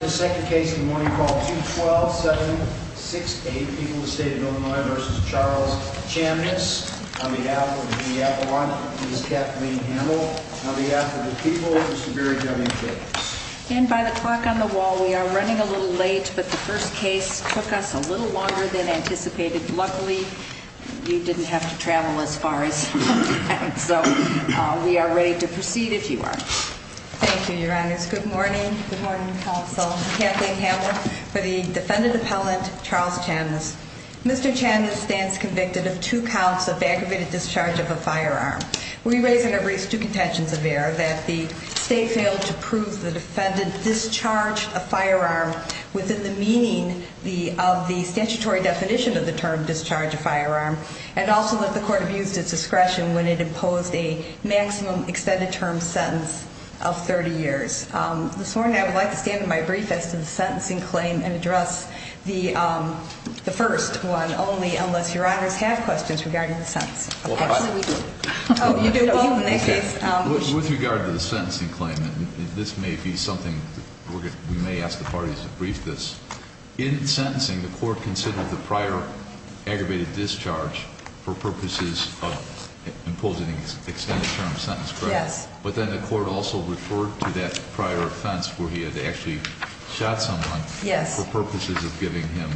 The second case in the morning call 2-12-7-6-8. People of the State of Illinois v. Charles Chamness. On behalf of the people, Ms. Kathleen Hamel. On behalf of the people, Mr. Barry W. Jacobs. And by the clock on the wall, we are running a little late, but the first case took us a little longer than anticipated. Luckily, you didn't have to travel as far as we did, so we are ready to proceed if you are. Thank you, Your Honor. Good morning. Good morning, Counsel. Kathleen Hamel for the defendant appellant, Charles Chamness. Mr. Chamness stands convicted of two counts of aggravated discharge of a firearm. We raise and erase two contentions of error that the State failed to prove the defendant discharged a firearm within the meaning of the statutory definition of the term discharge a firearm. And also that the court abused its discretion when it imposed a maximum extended term sentence of 30 years. This morning, I would like to stand in my brief as to the sentencing claim and address the first one only unless Your Honors have questions regarding the sentence. Actually, we do. Oh, you do. Well, in that case. With regard to the sentencing claim, this may be something we may ask the parties to brief this. In sentencing, the court considered the prior aggravated discharge for purposes of imposing an extended term sentence, correct? Yes. But then the court also referred to that prior offense where he had actually shot someone for purposes of giving him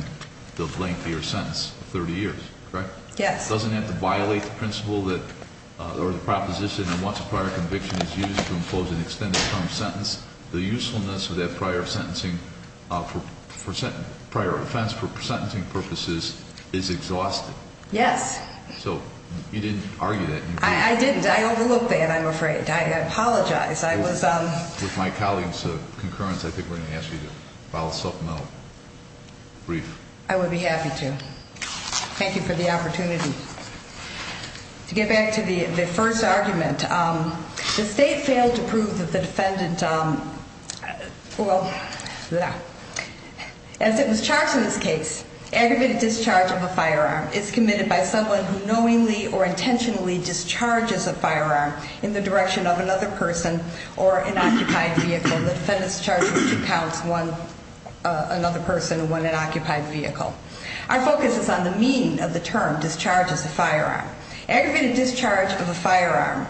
the lengthier sentence of 30 years, correct? Yes. It doesn't have to violate the principle or the proposition that once a prior conviction is used to impose an extended term sentence, the usefulness of that prior offense for sentencing purposes is exhausted. Yes. So you didn't argue that. I didn't. I overlooked that, I'm afraid. I apologize. With my colleagues' concurrence, I think we're going to ask you to file a supplemental brief. I would be happy to. Thank you for the opportunity. To get back to the first argument, the state failed to prove that the defendant, well, as it was charged in this case, aggravated discharge of a firearm is committed by someone who knowingly or intentionally discharges a firearm in the direction of another person or an occupied vehicle. Our focus is on the mean of the term discharges a firearm. Aggravated discharge of a firearm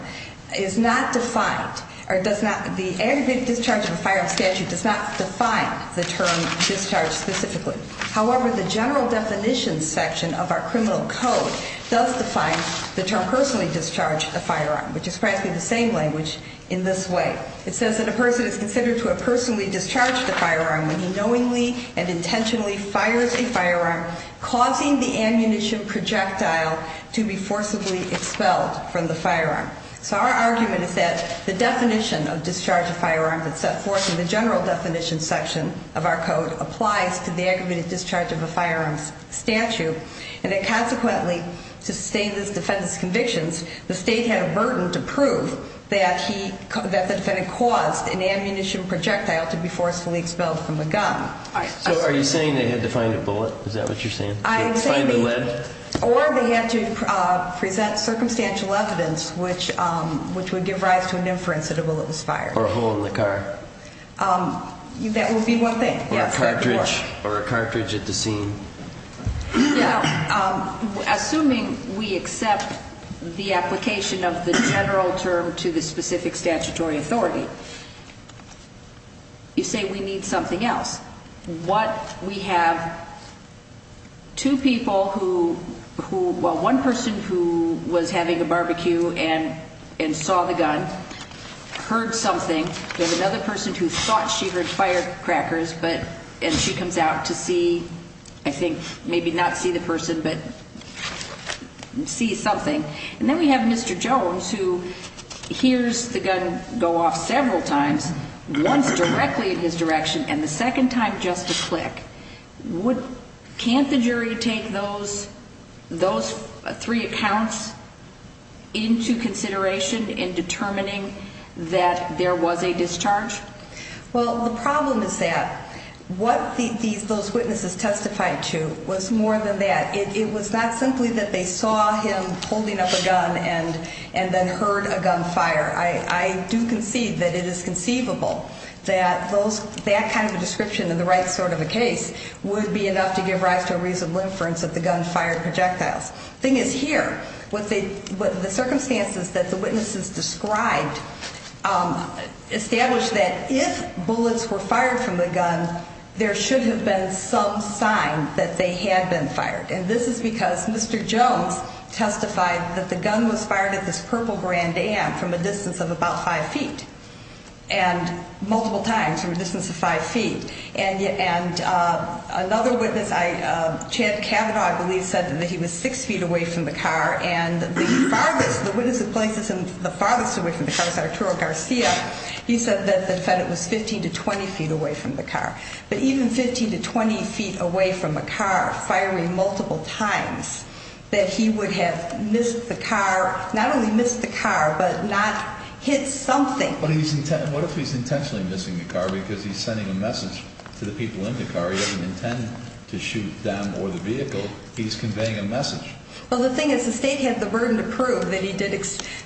is not defined, or does not, the aggravated discharge of a firearm statute does not define the term discharge specifically. However, the general definition section of our criminal code does define the term personally discharged a firearm, which is practically the same language in this way. It says that a person is considered to have personally discharged a firearm when he knowingly and intentionally fires a firearm, causing the ammunition projectile to be forcibly expelled from the firearm. So our argument is that the definition of discharge of firearms that's set forth in the general definition section of our code applies to the aggravated discharge of a firearm statute. And then consequently, to sustain this defendant's convictions, the state had a burden to prove that the defendant caused an ammunition projectile to be forcefully expelled from the gun. So are you saying they had to find a bullet? Is that what you're saying? Or they had to present circumstantial evidence which would give rise to an inference that a bullet was fired. Or a hole in the car. That would be one thing. Or a cartridge at the scene. Now, assuming we accept the application of the general term to the specific statutory authority, you say we need something else. We have two people who, well, one person who was having a barbecue and saw the gun, heard something. There's another person who thought she heard firecrackers, and she comes out to see, I think, maybe not see the person, but see something. And then we have Mr. Jones who hears the gun go off several times, once directly in his direction and the second time just a click. Can't the jury take those three accounts into consideration in determining that there was a discharge? Well, the problem is that what those witnesses testified to was more than that. It was not simply that they saw him holding up a gun and then heard a gun fire. I do concede that it is conceivable that that kind of a description in the right sort of a case would be enough to give rise to a reasonable inference that the gun fired projectiles. The thing is here, what the circumstances that the witnesses described established that if bullets were fired from the gun, there should have been some sign that they had been fired. And this is because Mr. Jones testified that the gun was fired at this Purple Grand Am from a distance of about five feet and multiple times from a distance of five feet. And another witness, Chad Cavanaugh, I believe, said that he was six feet away from the car. And the farthest, the witness that places him the farthest away from the car is Arturo Garcia. He said that it was 15 to 20 feet away from the car. But even 15 to 20 feet away from a car firing multiple times, that he would have missed the car, not only missed the car, but not hit something. What if he's intentionally missing the car because he's sending a message to the people in the car? He doesn't intend to shoot them or the vehicle. He's conveying a message. Well, the thing is the state had the burden to prove that he did,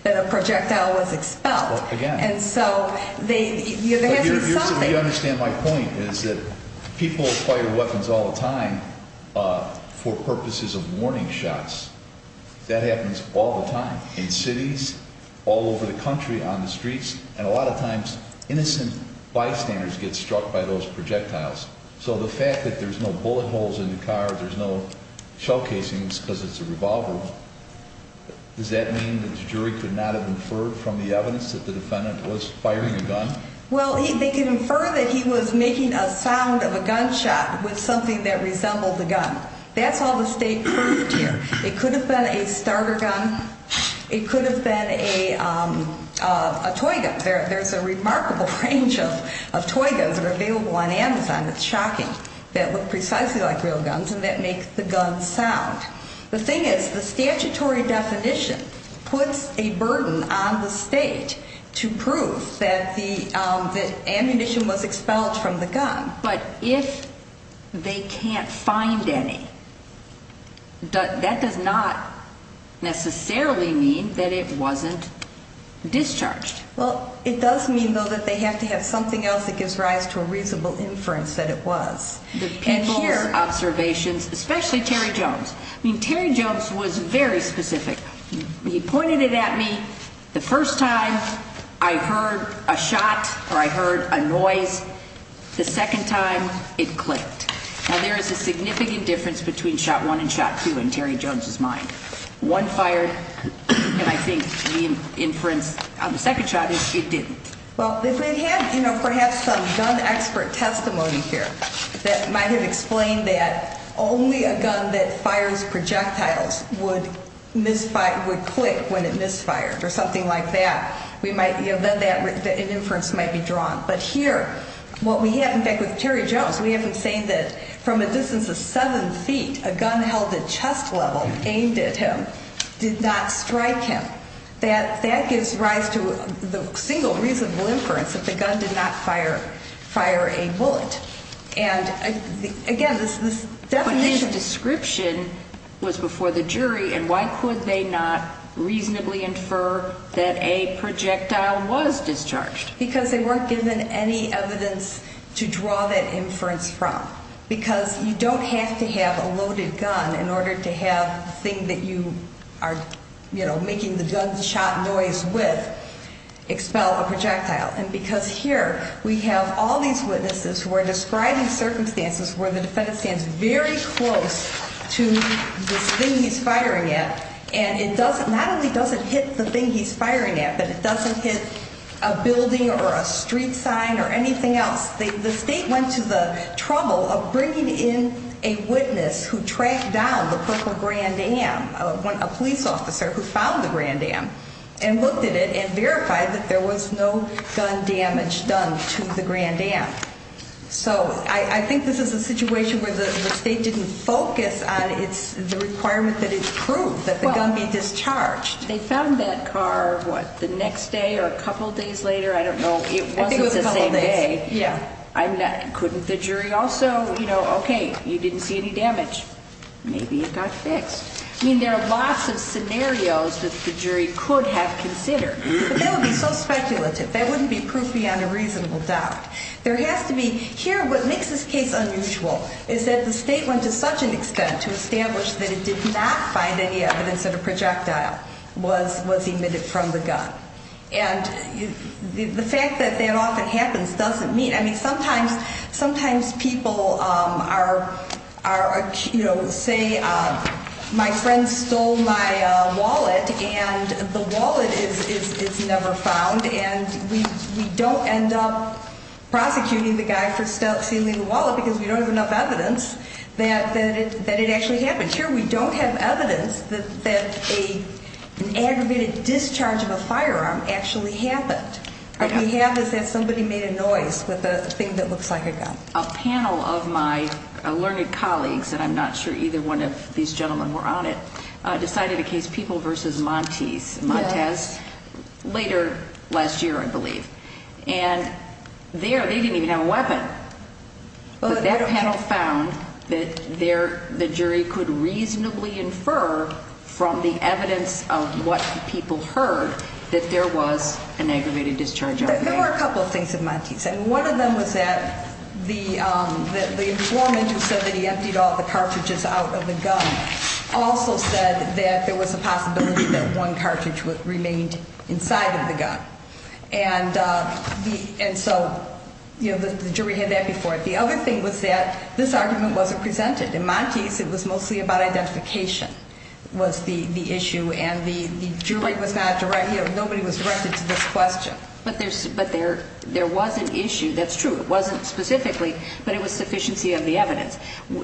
that a projectile was expelled. Again. And so they, there has to be something. You understand my point is that people fire weapons all the time for purposes of warning shots. That happens all the time in cities, all over the country, on the streets. And a lot of times innocent bystanders get struck by those projectiles. So the fact that there's no bullet holes in the car, there's no shell casings because it's a revolver, does that mean that the jury could not have inferred from the evidence that the defendant was firing a gun? Well, they could infer that he was making a sound of a gunshot with something that resembled a gun. That's all the state proved here. It could have been a starter gun. It could have been a toy gun. There's a remarkable range of toy guns that are available on Amazon. It's shocking. That look precisely like real guns and that make the gun sound. The thing is the statutory definition puts a burden on the state to prove that the ammunition was expelled from the gun. But if they can't find any, that does not necessarily mean that it wasn't discharged. Well, it does mean, though, that they have to have something else that gives rise to a reasonable inference that it was. People's observations, especially Terry Jones. I mean, Terry Jones was very specific. He pointed it at me the first time I heard a shot or I heard a noise. The second time it clicked. Now, there is a significant difference between shot one and shot two in Terry Jones's mind. One fired, and I think the inference on the second shot is it didn't. Well, if they had, you know, perhaps some gun expert testimony here that might have explained that only a gun that fires projectiles would click when it misfired or something like that, then an inference might be drawn. But here what we have, in fact, with Terry Jones, we have him saying that from a distance of seven feet, a gun held at chest level aimed at him did not strike him. That gives rise to the single reasonable inference that the gun did not fire a bullet. And, again, this definition. But his description was before the jury, and why could they not reasonably infer that a projectile was discharged? Because they weren't given any evidence to draw that inference from. Because you don't have to have a loaded gun in order to have the thing that you are, you know, making the gunshot noise with expel a projectile. And because here we have all these witnesses who are describing circumstances where the defendant stands very close to this thing he's firing at, and it not only doesn't hit the thing he's firing at, but it doesn't hit a building or a street sign or anything else. The state went to the trouble of bringing in a witness who tracked down the Purple Grand Dam, a police officer who found the Grand Dam, and looked at it and verified that there was no gun damage done to the Grand Dam. So I think this is a situation where the state didn't focus on the requirement that it prove that the gun be discharged. They found that car, what, the next day or a couple days later? I don't know. It wasn't the same day. Yeah. Couldn't the jury also, you know, okay, you didn't see any damage. Maybe it got fixed. I mean, there are lots of scenarios that the jury could have considered. But that would be so speculative. That wouldn't be proof beyond a reasonable doubt. There has to be. Here what makes this case unusual is that the state went to such an extent to establish that it did not find any evidence that a projectile was emitted from the gun. And the fact that that often happens doesn't mean. I mean, sometimes people are, you know, say my friend stole my wallet, and the wallet is never found. And we don't end up prosecuting the guy for stealing the wallet because we don't have enough evidence that it actually happened. I'm sure we don't have evidence that an aggravated discharge of a firearm actually happened. What we have is that somebody made a noise with a thing that looks like a gun. A panel of my learned colleagues, and I'm not sure either one of these gentlemen were on it, decided a case, People v. Montes, later last year, I believe. And there they didn't even have a weapon. But that panel found that the jury could reasonably infer from the evidence of what people heard that there was an aggravated discharge of a firearm. There were a couple of things that Montes said. One of them was that the informant who said that he emptied all the cartridges out of the gun also said that there was a possibility that one cartridge remained inside of the gun. And so, you know, the jury had that before. The other thing was that this argument wasn't presented. In Montes, it was mostly about identification was the issue, and the jury was not directed, you know, nobody was directed to this question. But there was an issue, that's true. It wasn't specifically, but it was sufficiency of the evidence.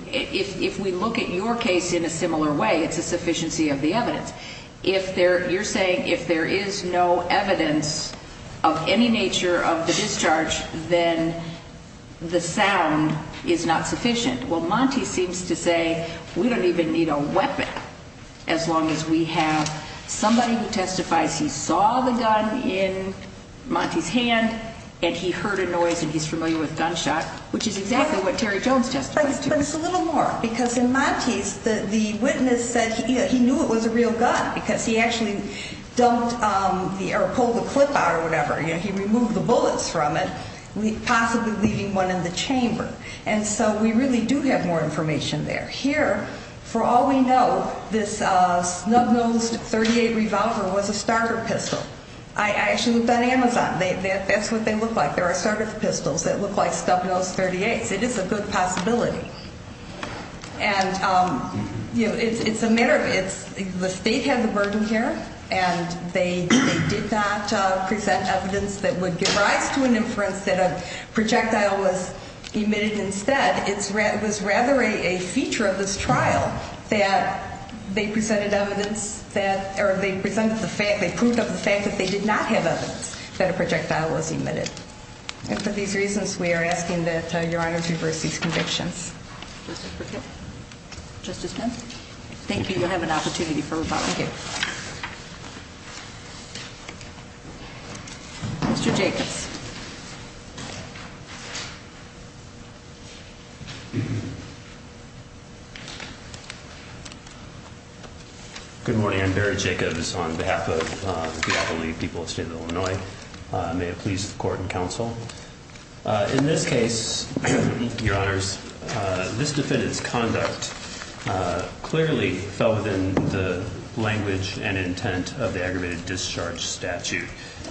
If we look at your case in a similar way, it's a sufficiency of the evidence. You're saying if there is no evidence of any nature of the discharge, then the sound is not sufficient. Well, Montes seems to say we don't even need a weapon as long as we have somebody who testifies he saw the gun in Montes' hand and he heard a noise and he's familiar with gunshot, which is exactly what Terry Jones testified to. But it's a little more, because in Montes, the witness said he knew it was a real gun, because he actually pulled the clip out or whatever. He removed the bullets from it, possibly leaving one in the chamber. And so we really do have more information there. Here, for all we know, this snub-nosed .38 revolver was a starter pistol. I actually looked on Amazon. That's what they look like. There are starter pistols that look like snub-nosed .38s. It is a good possibility. And, you know, it's a matter of the state had the burden here, and they did not present evidence that would give rise to an inference that a projectile was emitted instead. It was rather a feature of this trial that they presented evidence that or they presented the fact, they proved of the fact that they did not have evidence that a projectile was emitted. And for these reasons, we are asking that Your Honor to reverse these convictions. Justice Brickett? Justice Pence? Thank you. You'll have an opportunity for rebuttal. Thank you. Mr. Jacobs. Good morning. I'm Barry Jacobs on behalf of the Appalachian people of the state of Illinois. May it please the court and counsel. In this case, Your Honors, this defendant's conduct clearly fell within the language and intent of the aggravated discharge statute.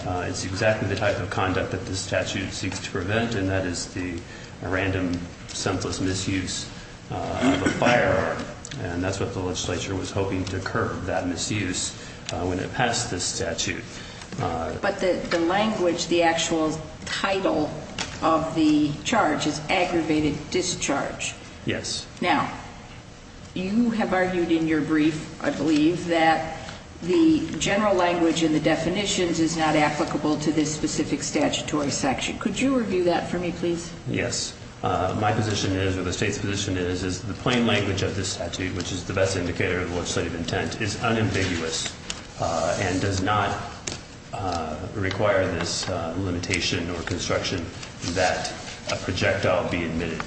It's exactly the type of conduct that this statute seeks to prevent, and that is the random, senseless misuse of a firearm. And that's what the legislature was hoping to curb, that misuse, when it passed this statute. But the language, the actual title of the charge is aggravated discharge. Yes. Now, you have argued in your brief, I believe, that the general language and the definitions is not applicable to this specific statutory section. Could you review that for me, please? Yes. My position is, or the state's position is, is the plain language of this statute, which is the best indicator of legislative intent, is unambiguous and does not require this limitation or construction that a projectile be emitted.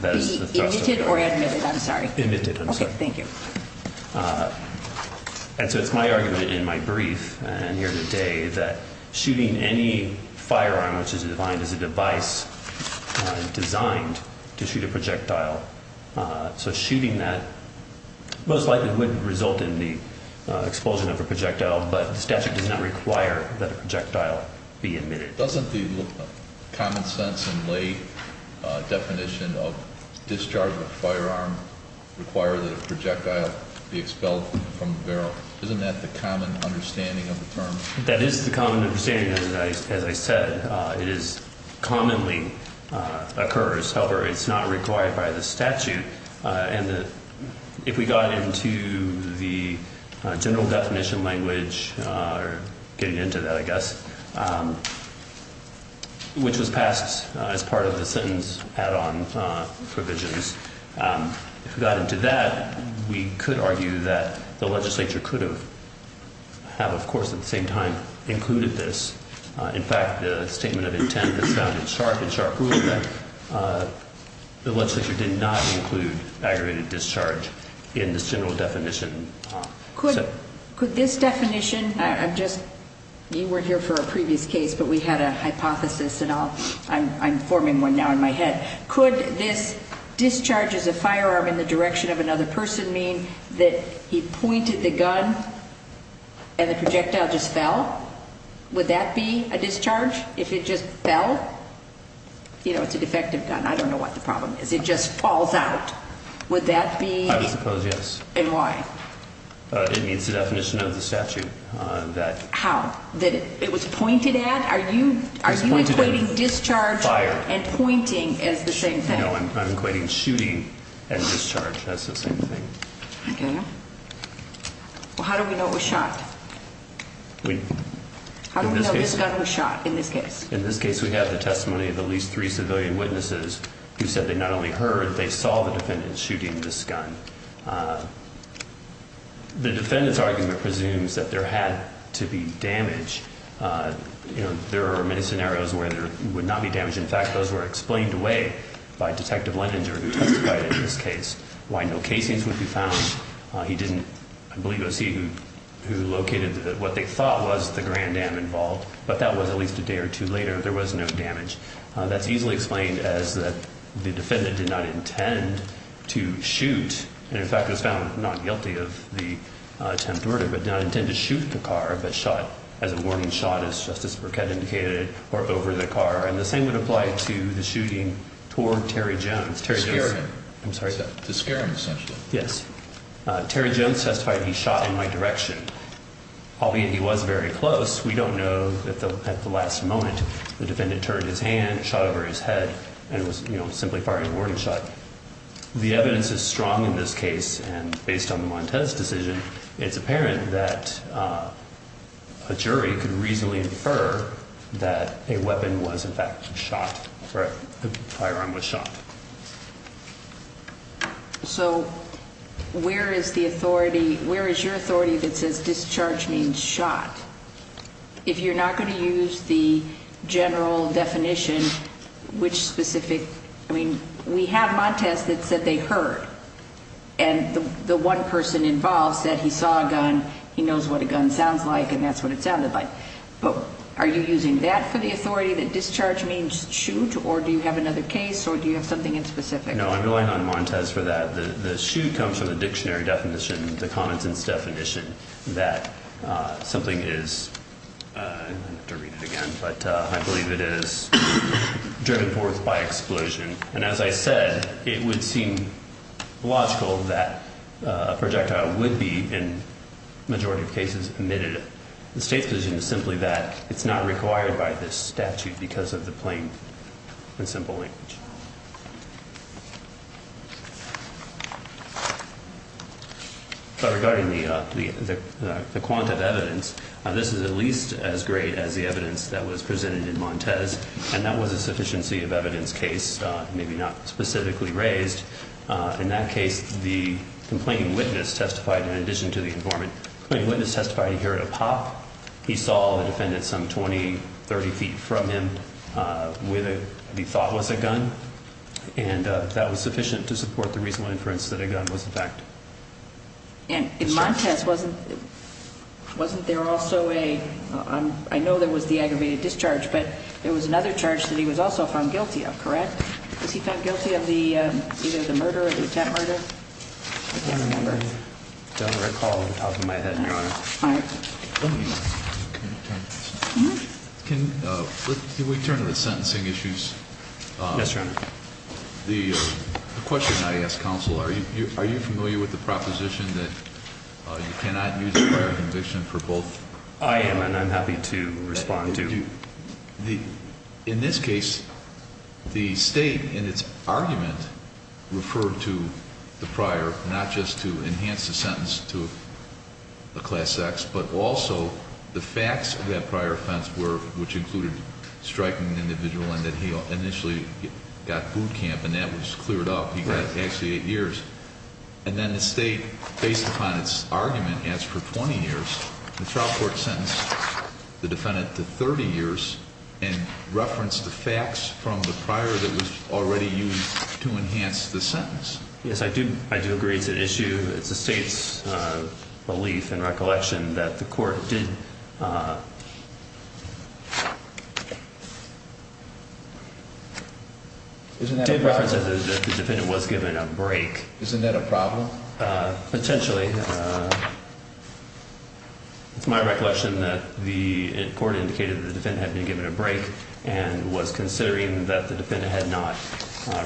Be emitted or admitted, I'm sorry. Emitted, I'm sorry. Okay, thank you. And so it's my argument in my brief and here today that shooting any firearm, which is defined as a device designed to shoot a projectile, so shooting that most likely would result in the expulsion of a projectile, but the statute does not require that a projectile be emitted. Doesn't the common sense and lay definition of discharge of a firearm require that a projectile be expelled from the barrel? Isn't that the common understanding of the term? That is the common understanding, as I said. It commonly occurs, however, it's not required by the statute. And if we got into the general definition language, or getting into that, I guess, which was passed as part of the sentence add-on provisions, if we got into that, we could argue that the legislature could have, of course, at the same time, included this. In fact, the statement of intent has found in sharp and sharp rule that the legislature did not include aggravated discharge in this general definition. Could this definition, I'm just, you weren't here for a previous case, but we had a hypothesis and I'm forming one now in my head. Could this discharge as a firearm in the direction of another person mean that he pointed the gun and the projectile just fell? Would that be a discharge if it just fell? It's a defective gun. I don't know what the problem is. It just falls out. Would that be- I would suppose yes. And why? It meets the definition of the statute that- How? That it was pointed at? Are you equating discharge and pointing as the same thing? No, I'm equating shooting and discharge as the same thing. Okay. Well, how do we know it was shot? How do we know this gun was shot in this case? In this case, we have the testimony of at least three civilian witnesses who said they not only heard, they saw the defendant shooting this gun. The defendant's argument presumes that there had to be damage. There are many scenarios where there would not be damage. In fact, those were explained away by Detective Leninger who testified in this case why no casings would be found. He didn't, I believe it was he who located what they thought was the Grand Dam involved. But that was at least a day or two later. There was no damage. That's easily explained as the defendant did not intend to shoot. And, in fact, was found not guilty of the attempted murder, but did not intend to shoot the car, but shot as a warning shot, as Justice Burkett indicated, or over the car. And the same would apply to the shooting toward Terry Jones. I'm sorry? Yes. Terry Jones testified he shot in my direction, albeit he was very close. We don't know if at the last moment the defendant turned his hand, shot over his head, and was, you know, simply firing a warning shot. The evidence is strong in this case, and based on the Montez decision, it's apparent that a jury could reasonably infer that a weapon was, in fact, shot, or a firearm was shot. So where is the authority, where is your authority that says discharge means shot? If you're not going to use the general definition, which specific, I mean, we have Montez that said they heard. And the one person involved said he saw a gun, he knows what a gun sounds like, and that's what it sounded like. But are you using that for the authority that discharge means shoot, or do you have another case, or do you have something in specific? No, I'm relying on Montez for that. The shoot comes from the dictionary definition, the commonsense definition, that something is, I'm going to have to read it again, but I believe it is driven forth by explosion. And as I said, it would seem logical that a projectile would be, in the majority of cases, emitted. The state's position is simply that it's not required by this statute because of the plain and simple language. But regarding the quant of evidence, this is at least as great as the evidence that was presented in Montez, and that was a sufficiency of evidence case, maybe not specifically raised. In that case, the complaining witness testified in addition to the informant. The complaining witness testified he heard a pop. He saw the defendant some 20, 30 feet from him with what he thought was a gun, and that was sufficient to support the reasonable inference that a gun was in fact. And in Montez, wasn't there also a, I know there was the aggravated discharge, but there was another charge that he was also found guilty of, correct? Was he found guilty of either the murder or the attempt murder? I don't remember. I don't recall off the top of my head, Your Honor. All right. Can we turn to the sentencing issues? Yes, Your Honor. The question I ask counsel, are you familiar with the proposition that you cannot use a prior conviction for both? I am, and I'm happy to respond to. In this case, the state in its argument referred to the prior, not just to enhance the sentence to a class X, but also the facts of that prior offense were, which included striking the individual and that he initially got boot camp and that was cleared up. He got actually eight years. And then the state, based upon its argument, asked for 20 years. The trial court sentenced the defendant to 30 years and referenced the facts from the prior that was already used to enhance the sentence. Yes, I do. I do agree it's an issue. It's the state's belief and recollection that the court did reference that the defendant was given a break. Isn't that a problem? Well, potentially. It's my recollection that the court indicated that the defendant had been given a break and was considering that the defendant had not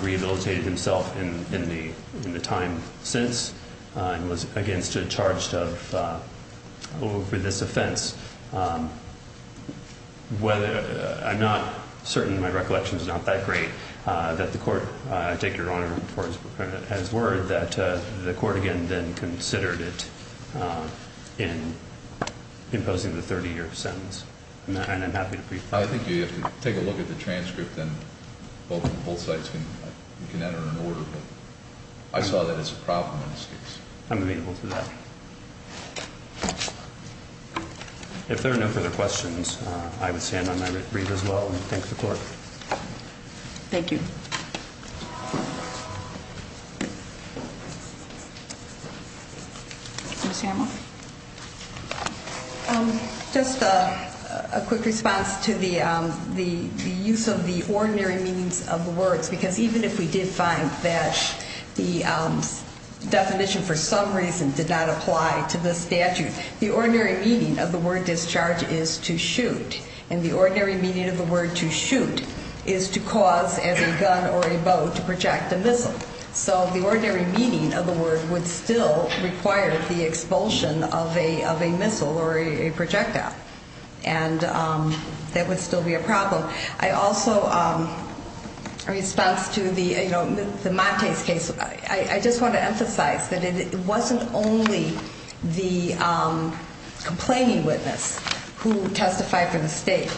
rehabilitated himself in the time since and was, again, charged over this offense. I'm not certain. My recollection is not that great. I take your honor for his word that the court, again, then considered it in imposing the 30-year sentence. And I'm happy to brief on that. I think you have to take a look at the transcript and both sides can enter an order. But I saw that as a problem in this case. I'm amenable to that. If there are no further questions, I would stand on my brief as well and thank the court. Thank you. Just a quick response to the use of the ordinary meanings of the words, because even if we did find that the definition for some reason did not apply to the statute, the ordinary meaning of the word discharge is to shoot. And the ordinary meaning of the word to shoot is to cause, as a gun or a bow, to project a missile. So the ordinary meaning of the word would still require the expulsion of a missile or a projectile. And that would still be a problem. I also, in response to the Montes case, I just want to emphasize that it wasn't only the complaining witness who testified for the state.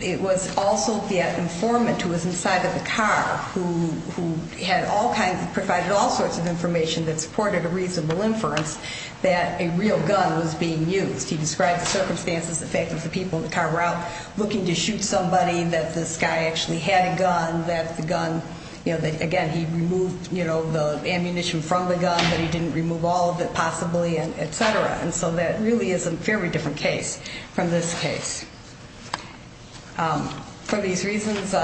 It was also the informant who was inside of the car who had all kinds of, provided all sorts of information that supported a reasonable inference that a real gun was being used. He described the circumstances, the fact that the people in the car were out looking to shoot somebody, that this guy actually had a gun, that the gun, again, he removed the ammunition from the gun, but he didn't remove all of it possibly, et cetera. And so that really is a fairly different case from this case. For these reasons,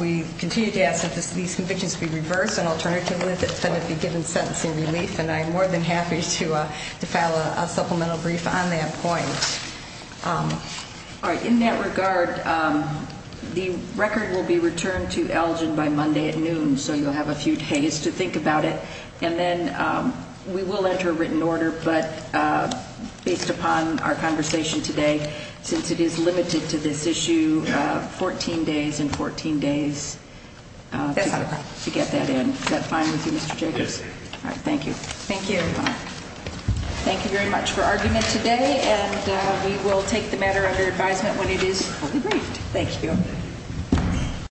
we continue to ask that these convictions be reversed, and alternatively that they be given sentencing relief. And I'm more than happy to file a supplemental brief on that point. All right. In that regard, the record will be returned to Elgin by Monday at noon, so you'll have a few days to think about it. And then we will enter a written order, but based upon our conversation today, since it is limited to this issue, 14 days and 14 days to get that in. Is that fine with you, Mr. Jacobs? Yes. All right. Thank you. Thank you. Thank you very much for arguing it today, and we will take the matter under advisement when it is fully briefed. Thank you.